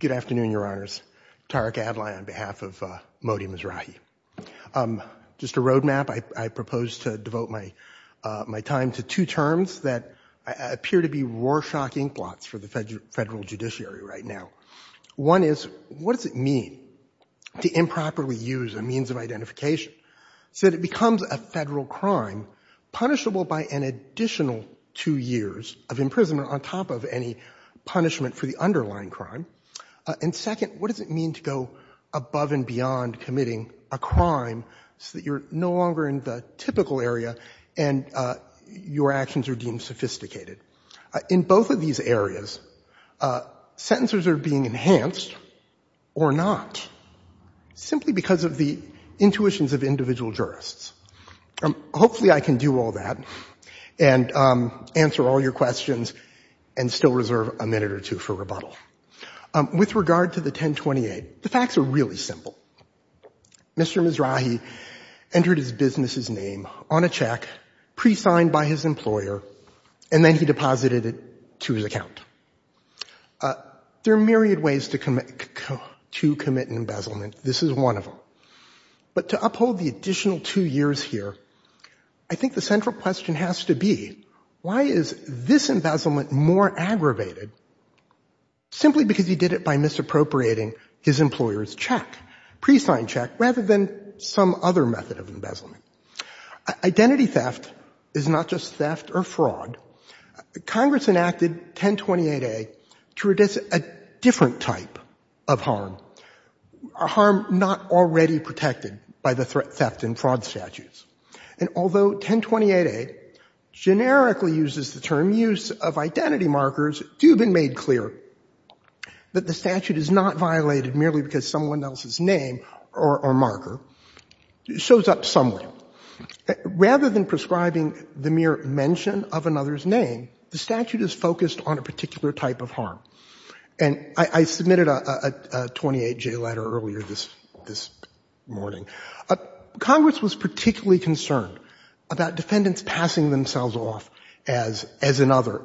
Good afternoon, Your Honors. Tariq Adlai on behalf of Modi Mizrahi. Just a road map, I propose to devote my time to two terms that appear to be war-shocking plots for the federal judiciary right now. One is, what does it mean to improperly use a means of identification so that it becomes a federal crime punishable by an additional two years of imprisonment on top of any punishment for the underlying crime? And second, what does it mean to go above and beyond committing a crime so that you're no longer in the typical area and your actions are deemed sophisticated? In both of these areas, sentences are being enhanced or not, simply because of the intuitions of individual jurists. Hopefully I can do all that and answer all your questions and still reserve a minute or two for rebuttal. With regard to the 1028, the facts are really simple. Mr. Mizrahi entered his business's name on a check, pre-signed by his employer, and then he deposited it to his account. There are myriad ways to commit embezzlement. This is one of them. But to uphold the additional two years here, I think the central question has to be, why is this embezzlement more aggravated, simply because he did it by misappropriating his employer's check, pre-signed check, rather than some other method of embezzlement? Identity theft is not just theft or fraud. Congress enacted 1028A to reduce a different type of harm, a harm not already protected by the theft and fraud statutes. And although 1028A generically uses the term use of identity markers, it has been made clear that the statute is not violated merely because someone else's name or marker shows up somewhere. Rather than prescribing the mere mention of another's name, the statute is focused on a particular type of harm. And I submitted a 28J letter earlier this morning. Congress was particularly concerned about defendants passing themselves off as another,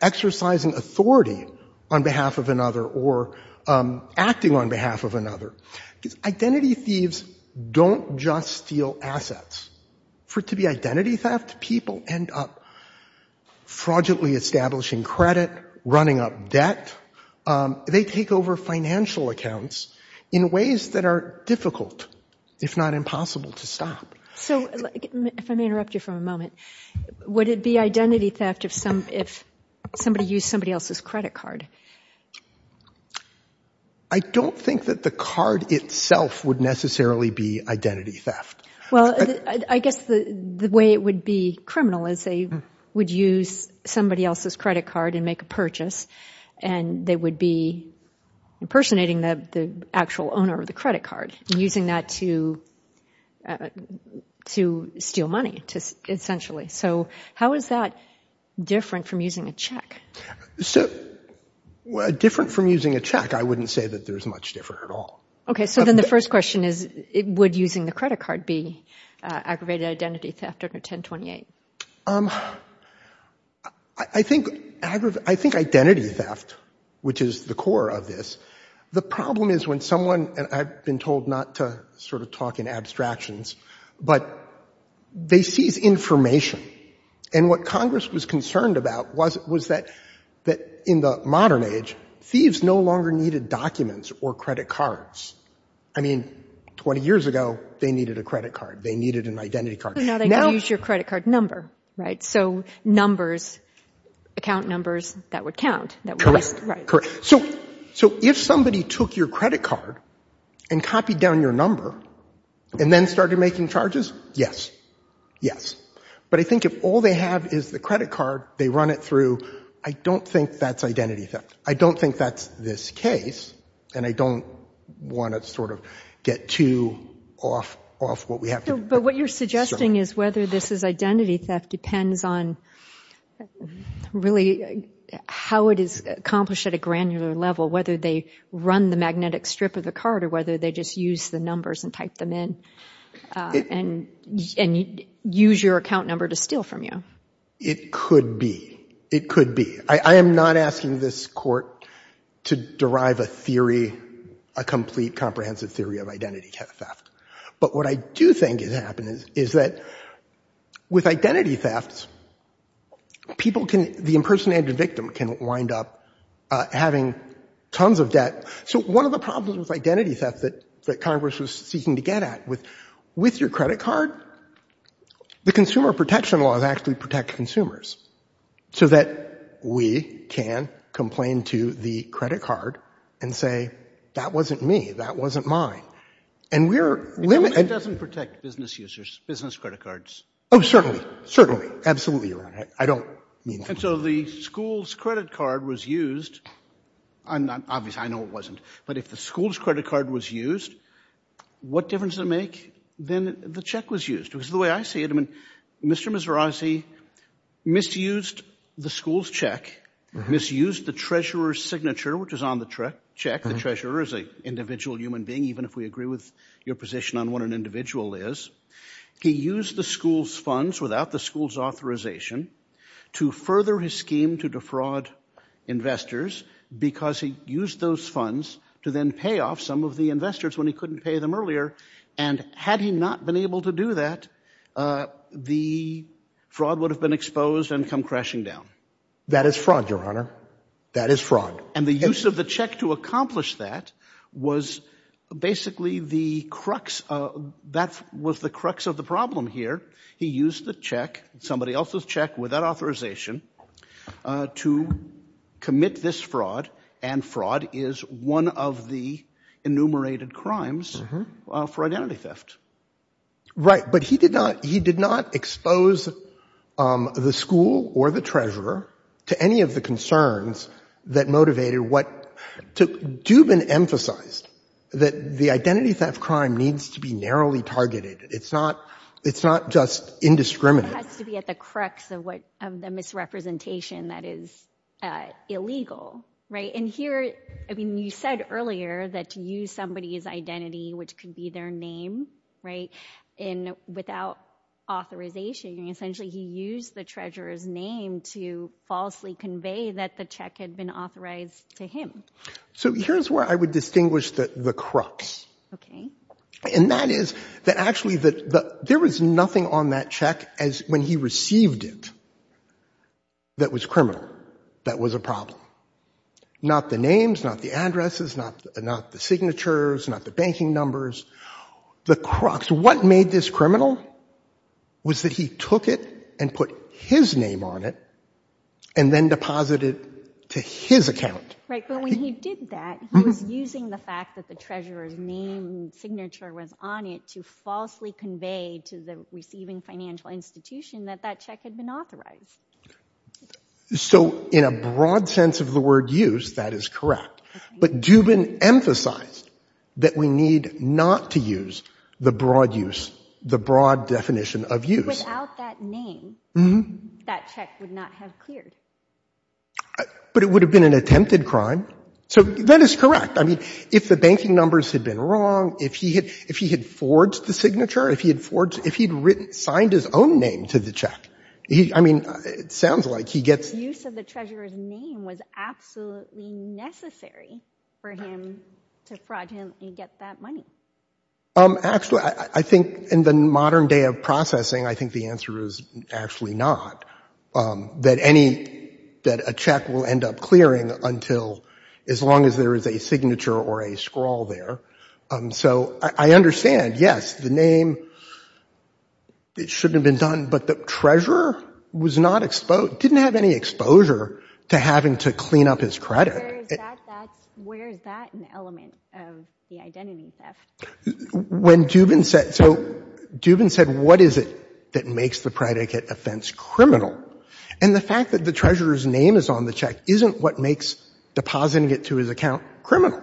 exercising authority on behalf of another or acting on behalf of another. Identity thieves don't just steal assets. For it to be identity theft, people end up fraudulently establishing credit, running up debt. They take over financial accounts in ways that are difficult, if not impossible, to stop. So, if I may interrupt you for a moment, would it be identity theft if somebody used somebody else's credit card? I don't think that the card itself would necessarily be identity theft. Well, I guess the way it would be criminal is they would use somebody else's credit card and make a purchase, and they would be impersonating the actual owner of the credit card, using that to steal money, essentially. So, how is that different from using a check? So, different from using a check, I wouldn't say that there's much different at all. Okay, so then the first question is, would using the credit card be aggravated identity theft under 1028? I think identity theft, which is the core of this, the problem is when someone, and I've been told not to sort of talk in abstractions, but they seize information. And what Congress was concerned about was that in the modern age, thieves no longer needed documents or credit cards. I mean, 20 years ago, they needed a credit card. They needed an identity card. So, now they could use your credit card number, right? So, numbers, account numbers, that would count. Right. So, if somebody took your credit card and copied down your number and then started making charges, yes. Yes. But I think if all they have is the credit card, they run it through. I don't think that's identity theft. I don't think that's this case. And I don't want to sort of get too off what we have here. But what you're suggesting is whether this is identity theft depends on really how it is accomplished at a granular level, whether they run the magnetic strip of the card or whether they just use the numbers and type them in and use your account number to steal from you. It could be. It could be. I am not asking this Court to derive a theory, a complete comprehensive theory of identity theft. But what I do think is happening is that with identity theft, people can, the impersonated victim can wind up having tons of debt. So, one of the problems with identity theft that Congress was seeking to get at with your credit card, the consumer protection laws actually protect consumers, so that we can complain to the credit card and say, that wasn't me, that wasn't mine. And we're limited. It doesn't protect business users, business credit cards. Oh, certainly. Certainly. Absolutely, Your Honor. I don't mean that. And so, the school's credit card was used. Obviously, I know it wasn't. But if the school's credit card was used, what difference does it make that the check was used? Because the way I see it, I mean, Mr. Mizrazi misused the school's check, misused the treasurer's signature, which is on the check. The treasurer is an individual human being, even if we agree with your position on what an individual is. He used the school's funds without the school's authorization to further his scheme to defraud investors because he used those funds to then pay off some of the investors when he couldn't pay them earlier. And had he not been able to do that, the fraud would have been exposed and come crashing down. That is fraud, Your Honor. That is fraud. And the use of the check to accomplish that was basically the crux, that was the crux of the problem here. He used the check, somebody else's check without authorization, to commit this fraud. And fraud is one of the enumerated crimes for identity theft. Right. But he did not, he did not expose the school or the treasurer to any of the concerns that motivated what, to do have been emphasized, that the identity theft crime needs to be narrowly targeted. It's not, it's not just indiscriminate. It has to be at the crux of what, of the misrepresentation that is illegal. Right. And here, I mean, you said earlier that to use somebody's identity, which could be their name, right, and without authorization, essentially he used the treasurer's name to falsely convey that the check had been authorized to him. So here's where I would distinguish the crux. Okay. And that is that actually that there was nothing on that check as when he received it that was criminal, that was a problem. Not the names, not the addresses, not the signatures, not the banking numbers, the crux. What made this criminal was that he took it and put his name on it and then deposited to his account. Right. But when he did that, he was using the fact that the treasurer's name and signature was on it to falsely convey to the receiving financial institution that that check had been authorized. So in a broad sense of the word use, that is correct. But Dubin emphasized that we need not to use the broad use, the broad definition of use. Without that name, that check would not have cleared. But it would have been an attempted crime. So that is correct. I mean, if the banking numbers had been wrong, if he had forged the signature, if he had forged, if he had signed his own name to the check, I mean, it sounds like he gets The use of the treasurer's name was absolutely necessary for him to fraud him and get that money. Actually, I think in the modern day of processing, I think the answer is actually not, that any, that a check will end up clearing until as long as there is a signature or a scrawl there. So I understand, yes, the name, it shouldn't have been done, but the treasurer was not exposed, didn't have any exposure to having to clean up his credit. Where is that, that's, where is that an element of the identity theft? When Dubin said, so Dubin said, what is it that makes the predicate offense criminal? And the fact that the treasurer's name is on the check isn't what makes depositing it to his account criminal.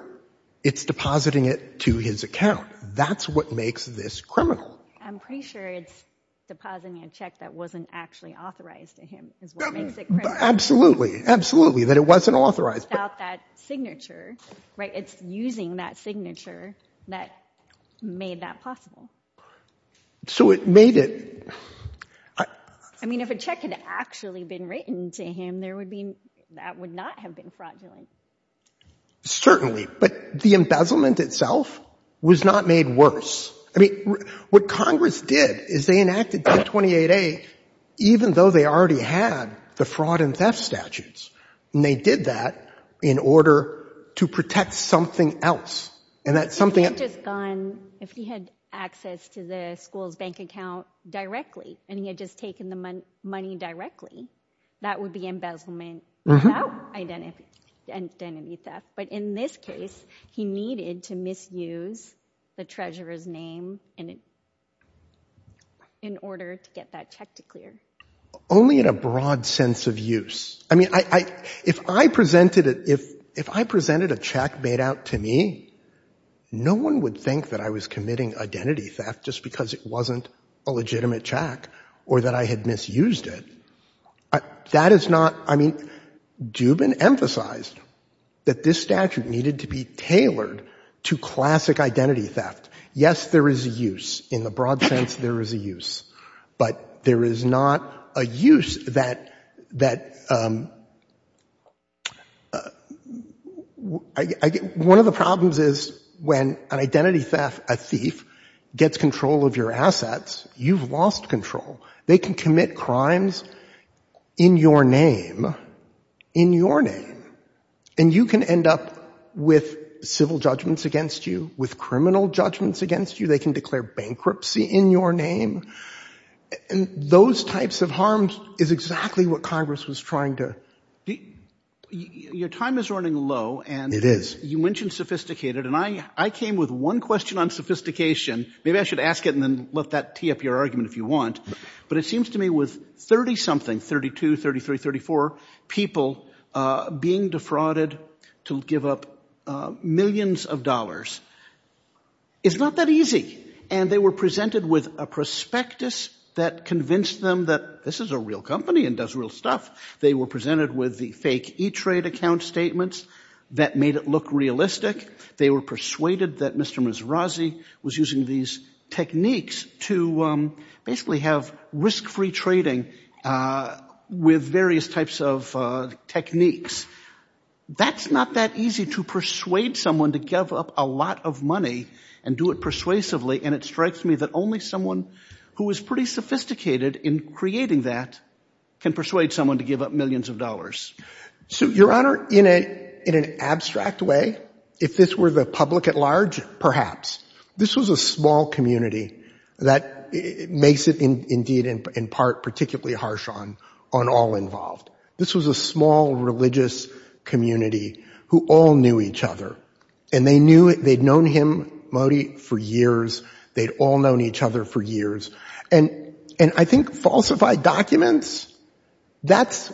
It's depositing it to his account. That's what makes this criminal. I'm pretty sure it's depositing a check that wasn't actually authorized to him is what makes it criminal. Absolutely. Absolutely. That it wasn't authorized. Without that signature, right? It's using that signature that made that possible. So it made it. I mean, if a check had actually been written to him, there would be, that would not have been fraudulent. Certainly, but the embezzlement itself was not made worse. I mean, what Congress did is they enacted 228A even though they already had the fraud and theft statutes. And they did that in order to protect something else. And that's something. If he had access to the school's bank account directly and he had just taken the money directly, that would be embezzlement without identity theft. But in this case, he needed to misuse the treasurer's name in order to get that check to clear. Only in a broad sense of use. I mean, if I presented a check made out to me, no one would think that I was committing identity theft just because it wasn't a legitimate check or that I had misused it. That is not, I mean, Dubin emphasized that this statute needed to be tailored to classic identity theft. Yes, there is a use. In the broad sense, there is a use. But there is not a use that, one of the problems is when an identity theft, a thief, gets control of your assets, you've lost control. They can commit crimes in your name, in your name, and you can end up with civil judgments against you, with criminal judgments against you. They can declare bankruptcy in your name. And those types of harms is exactly what Congress was trying to... Your time is running low and you mentioned sophisticated and I came with one question on sophistication. Maybe I should ask it and then let that tee up your argument if you want. But it seems to me with 30-something, 32, 33, 34 people being defrauded to give up millions of dollars is not that easy. And they were presented with a prospectus that convinced them that this is a real company and does real stuff. They were presented with the fake E-Trade account statements that made it look realistic. They were persuaded that Mr. Mizrazi was using these techniques to basically have risk-free trading with various types of techniques. That's not that easy to persuade someone to give up a lot of money and do it persuasively and it strikes me that only someone who is pretty sophisticated in creating that can persuade someone to give up millions of dollars. So your Honor, in an abstract way, if this were the public at large, perhaps. This was a small community that makes it indeed in part particularly harsh on all involved. This was a small religious community who all knew each other and they knew, they'd known him, Modi, for years, they'd all known each other for years. And I think falsified documents, that's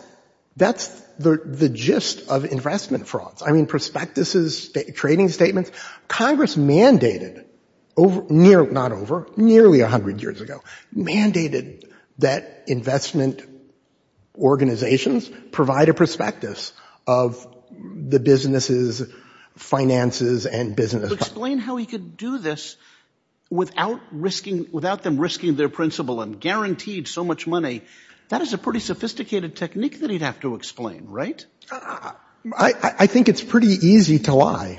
the gist of investment frauds. I mean prospectuses, trading statements, Congress mandated, not over, nearly a hundred years ago, mandated that investment organizations provide a prospectus of the businesses, finances and business. Explain how he could do this without risking, without them risking their principal and guaranteed so much money. That is a pretty sophisticated technique that he'd have to explain, right? I think it's pretty easy to lie.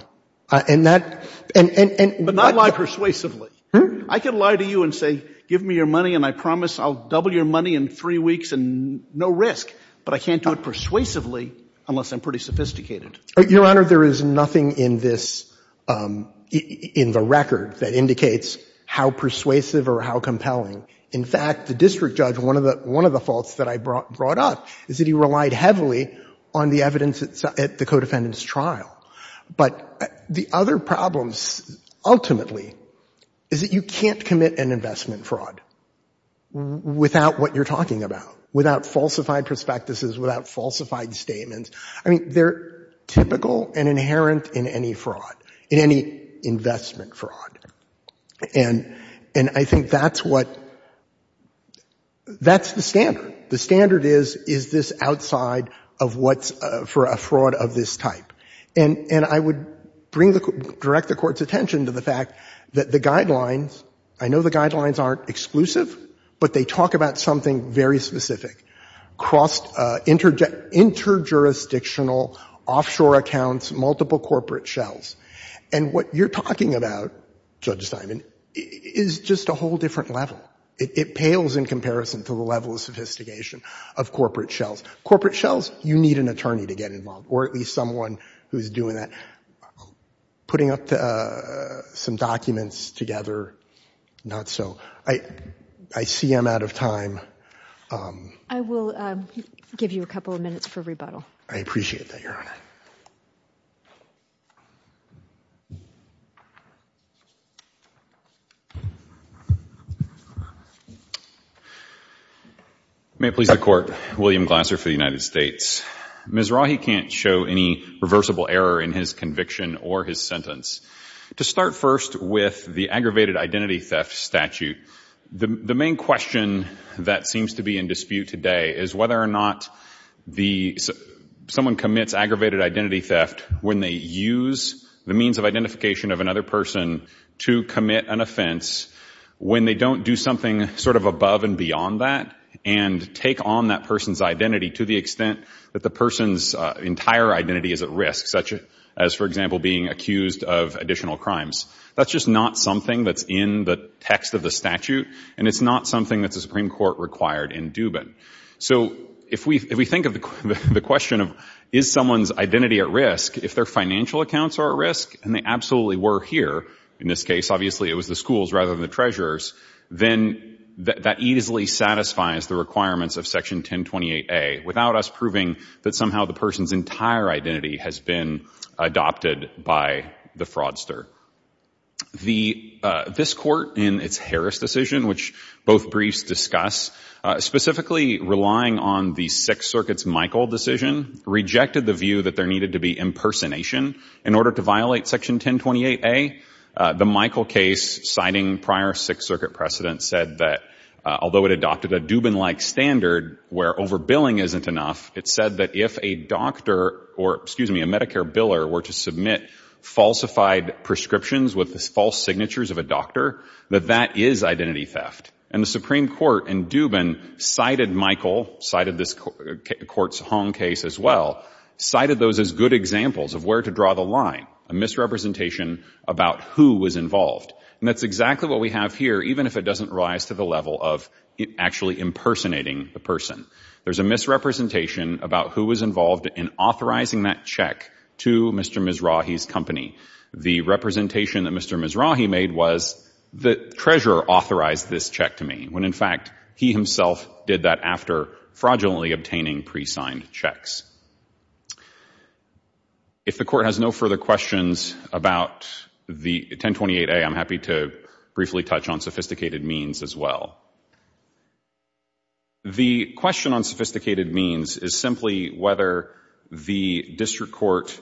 But not lie persuasively. I can lie to you and say, give me your money and I promise I'll double your money in three weeks and no risk. But I can't do it persuasively unless I'm pretty sophisticated. Your Honor, there is nothing in this, in the record that indicates how persuasive or how compelling. In fact, the district judge, one of the faults that I brought up is that he relied heavily on the evidence at the co-defendant's trial. But the other problem, ultimately, is that you can't commit an investment fraud without what you're talking about, without falsified prospectuses, without falsified statements. I mean, they're typical and inherent in any fraud, in any investment fraud. And I think that's what, that's the standard. The standard is, is this outside of what's for a fraud of this type. And, and I would bring the, direct the court's attention to the fact that the guidelines, I know the guidelines aren't exclusive, but they talk about something very specific. Cross, inter, inter-jurisdictional offshore accounts, multiple corporate shells. And what you're talking about, Judge Simon, is just a whole different level. It, it pales in comparison to the level of sophistication of corporate shells. Corporate shells, you need an attorney to get involved, or at least someone who's doing that. Putting up the, some documents together, not so. I, I see I'm out of time. I will, give you a couple of minutes for rebuttal. I appreciate that, Your Honor. May it please the court. William Glasser for the United States. Ms. Rahi can't show any reversible error in his conviction or his sentence. To start first with the aggravated identity theft statute. The, the main question that seems to be in dispute today is whether or not the, someone commits aggravated identity theft when they use the means of identification of another person to commit an offense when they don't do something sort of above and beyond that. And take on that person's identity to the extent that the person's entire identity is at risk. Such as, for example, being accused of additional crimes. That's just not something that's in the text of the statute. And it's not something that the Supreme Court required in Dubin. So, if we, if we think of the, the question of, is someone's identity at risk, if their financial accounts are at risk, and they absolutely were here. In this case, obviously it was the schools rather than the treasurers. Then, that easily satisfies the requirements of Section 1028A. Without us proving that somehow the person's entire identity has been adopted by the fraudster. The, this court in its Harris decision, which both briefs discuss. Specifically relying on the Sixth Circuit's Michael decision. Rejected the view that there needed to be impersonation in order to violate Section 1028A. The Michael case, citing prior Sixth Circuit precedent, said that, although it adopted a Dubin-like standard where overbilling isn't enough. It said that if a doctor, or excuse me, a Medicare biller were to submit falsified prescriptions with the false signatures of a doctor, that that is identity theft. And the Supreme Court in Dubin cited Michael, cited this court's Hong case as well. Cited those as good examples of where to draw the line. A misrepresentation about who was involved. And that's exactly what we have here, even if it doesn't rise to the level of actually impersonating the person. There's a misrepresentation about who was involved in authorizing that check to Mr. Mizrahi's company. The representation that Mr. Mizrahi made was, the treasurer authorized this check to me. When in fact, he himself did that after fraudulently obtaining pre-signed checks. If the court has no further questions about the 1028A, I'm happy to briefly touch on sophisticated means as well. The question on sophisticated means is simply whether the district court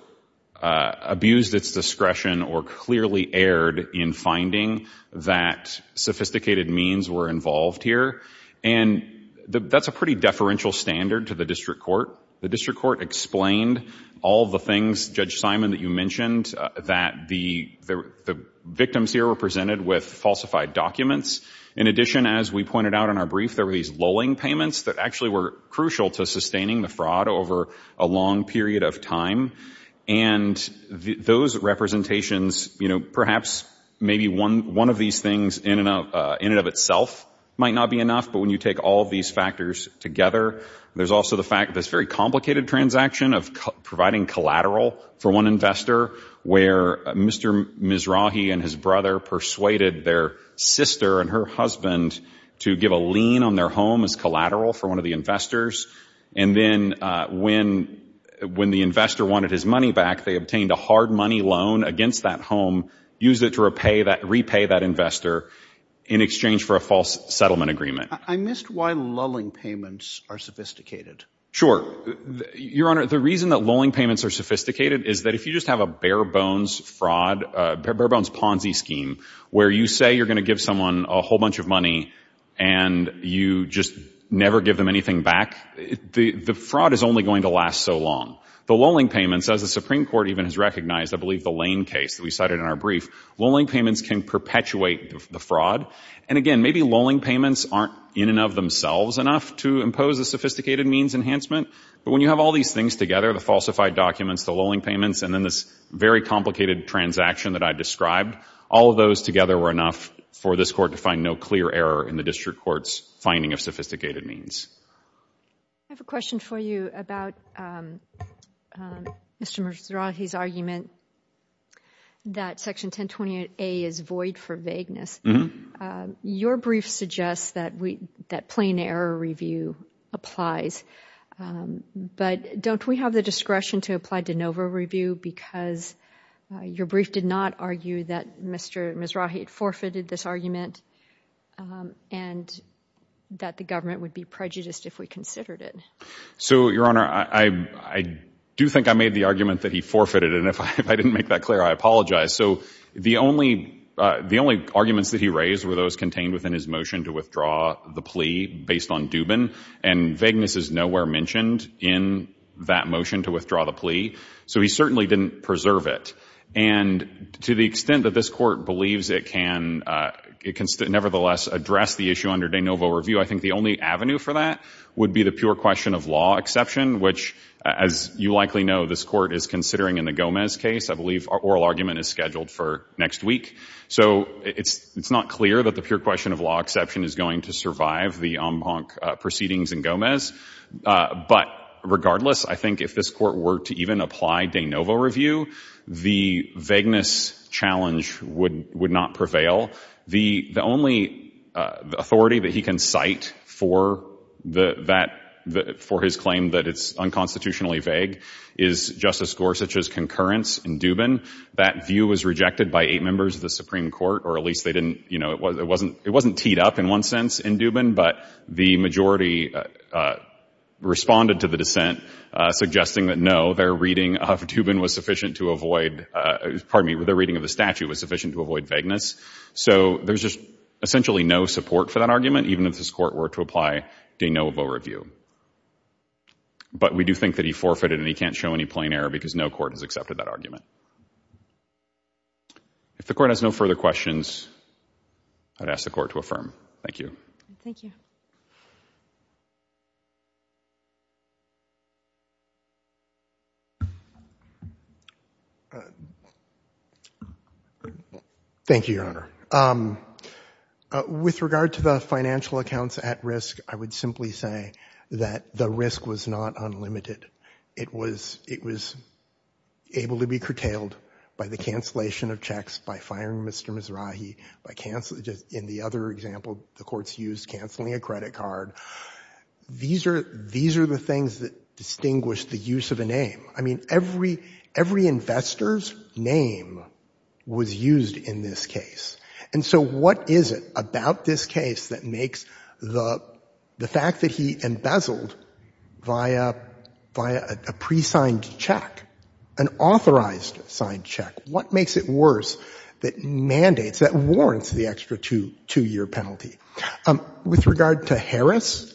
abused its discretion or clearly erred in finding that sophisticated means were involved here. And that's a pretty deferential standard to the district court. The district court explained all the things, Judge Simon, that you mentioned, that the victims here were presented with falsified documents. In addition, as we pointed out in our brief, there were these lolling payments that actually were crucial to sustaining the fraud over a long period of time. And those representations, you know, perhaps maybe one of these things in and of itself might not be enough. But when you take all of these factors together, there's also the fact, this very complicated transaction of providing collateral for one investor, where Mr. Mizrahi and his brother persuaded their sister and her husband to give a lien on their home as collateral for one of the investors. And then when the investor wanted his money back, they obtained a hard money loan against that home, used it to repay that investor in exchange for a false settlement agreement. I missed why lulling payments are sophisticated. Sure. Your Honor, the reason that lulling payments are sophisticated is that if you just have a bare-bones fraud, bare-bones Ponzi scheme, where you say you're going to give someone a whole bunch of money and you just never give them anything back, the fraud is only going to last so long. The lulling payments, as the Supreme Court even has recognized, I believe the Lane case that we cited in our brief, lulling payments can perpetuate the fraud. And again, maybe lulling payments aren't in and of themselves enough to impose a sophisticated means enhancement. But when you have all these things together, the falsified documents, the lulling payments, and then this very complicated transaction that I described, all of those together were enough for this Court to find no clear error in the District Court's finding of sophisticated means. I have a question for you about Mr. Mizrahi's argument that Section 1028A is void for vagueness. Your brief suggests that plain error review applies, but don't we have the discretion to apply de novo review because your brief did not argue that Mr. Mizrahi forfeited this argument and that the government would be prejudiced if we considered it? So, Your Honor, I do think I made the argument that he forfeited it, and if I didn't make that clear, I apologize. So, the only arguments that he raised were those contained within his motion to withdraw the plea based on Dubin, and vagueness is nowhere mentioned in that motion to withdraw the plea. So, he certainly didn't preserve it. And to the extent that this Court believes it can nevertheless address the issue under de novo review, I think the only avenue for that would be the pure question of law exception, which, as you likely know, this Court is considering in the Gomez case. I believe our oral argument is scheduled for next week. So, it's not clear that the pure question of law exception is going to survive the en banc proceedings in Gomez. But regardless, I think if this Court were to even apply de novo review, the vagueness challenge would not prevail. The only authority that he can cite for his claim that it's unconstitutionally vague is Justice Gorsuch's concurrence in Dubin. That view was rejected by eight members of the Supreme Court, or at least they didn't, you know, it wasn't teed up in one sense in Dubin, but the majority responded to the dissent suggesting that no, their reading of Dubin was sufficient to avoid, pardon me, their reading of the statute was sufficient to avoid vagueness. So, there's just essentially no support for that argument, even if this Court were to apply de novo review. But we do think that he forfeited and he can't show any plain error because no court has accepted that argument. If the Court has no further questions, I would ask the Court to affirm. Thank you. Thank you. Thank you, Your Honor. With regard to the financial accounts at risk, I would simply say that the risk was not unlimited. It was able to be curtailed by the cancellation of checks, by firing Mr. Mizrahi, by canceling, in the other example, the courts used canceling a credit card. These are the things that distinguish the use of a name. I mean, every investor's name was used in this case. And so, what is it about this case that makes the fact that he embezzled via a pre-signed check, an authorized signed check, what makes it worse that mandates, that warrants the extra two-year penalty? With regard to Harris,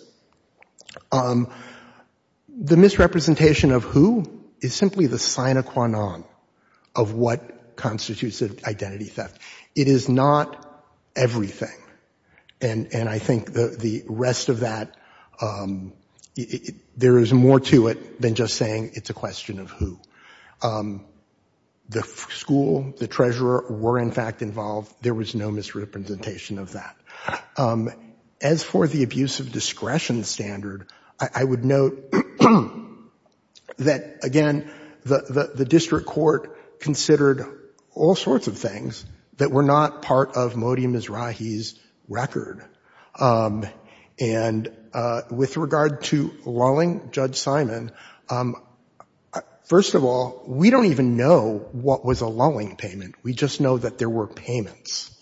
the misrepresentation of who is simply the sine qua non of what constitutes identity theft. It is not everything. And I think the rest of that, there is more to it than just saying it's a question of who. The school, the treasurer were, in fact, involved. There was no misrepresentation of that. As for the abuse of discretion standard, I would note that, again, the district court considered all sorts of things that were not part of Modi Mizrahi's record. And with regard to lulling Judge Simon, first of all, we don't even know what was a lulling payment. We just know that there were payments.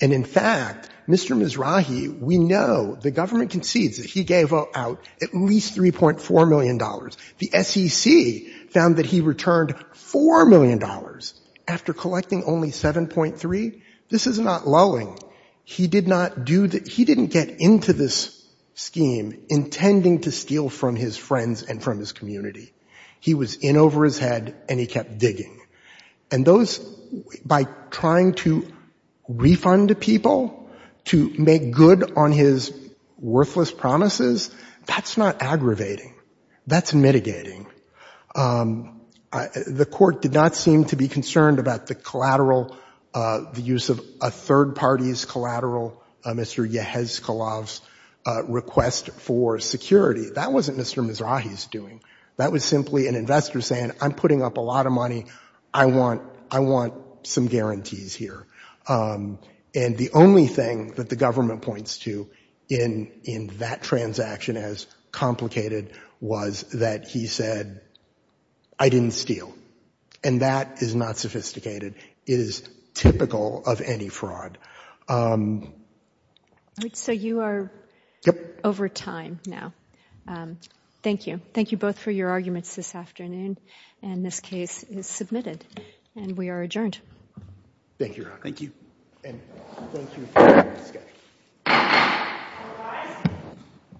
And, in fact, Mr. Mizrahi, we know, the government concedes that he gave out at least $3.4 million. The SEC found that he returned $4 million after collecting only 7.3. This is not lulling. He did not do the, he didn't get into this scheme intending to steal from his friends and from his community. He was in over his head and he kept digging. And those, by trying to refund people, to make good on his worthless promises, that's not aggravating. That's mitigating. The court did not seem to be concerned about the collateral, the use of a third party's collateral, Mr. Yehezkelov's request for security. That wasn't Mr. Mizrahi's doing. That was simply an investor saying, I'm putting up a lot of money. I want, I want some guarantees here. And the only thing that the government points to in that transaction as complicated was that he said, I didn't steal. And that is not sophisticated. It is typical of any fraud. So you are over time now. Thank you. Thank you both for your arguments this afternoon. And this case is submitted. And we are adjourned. Thank you, Your Honor. Thank you. And thank you for your time. All rise.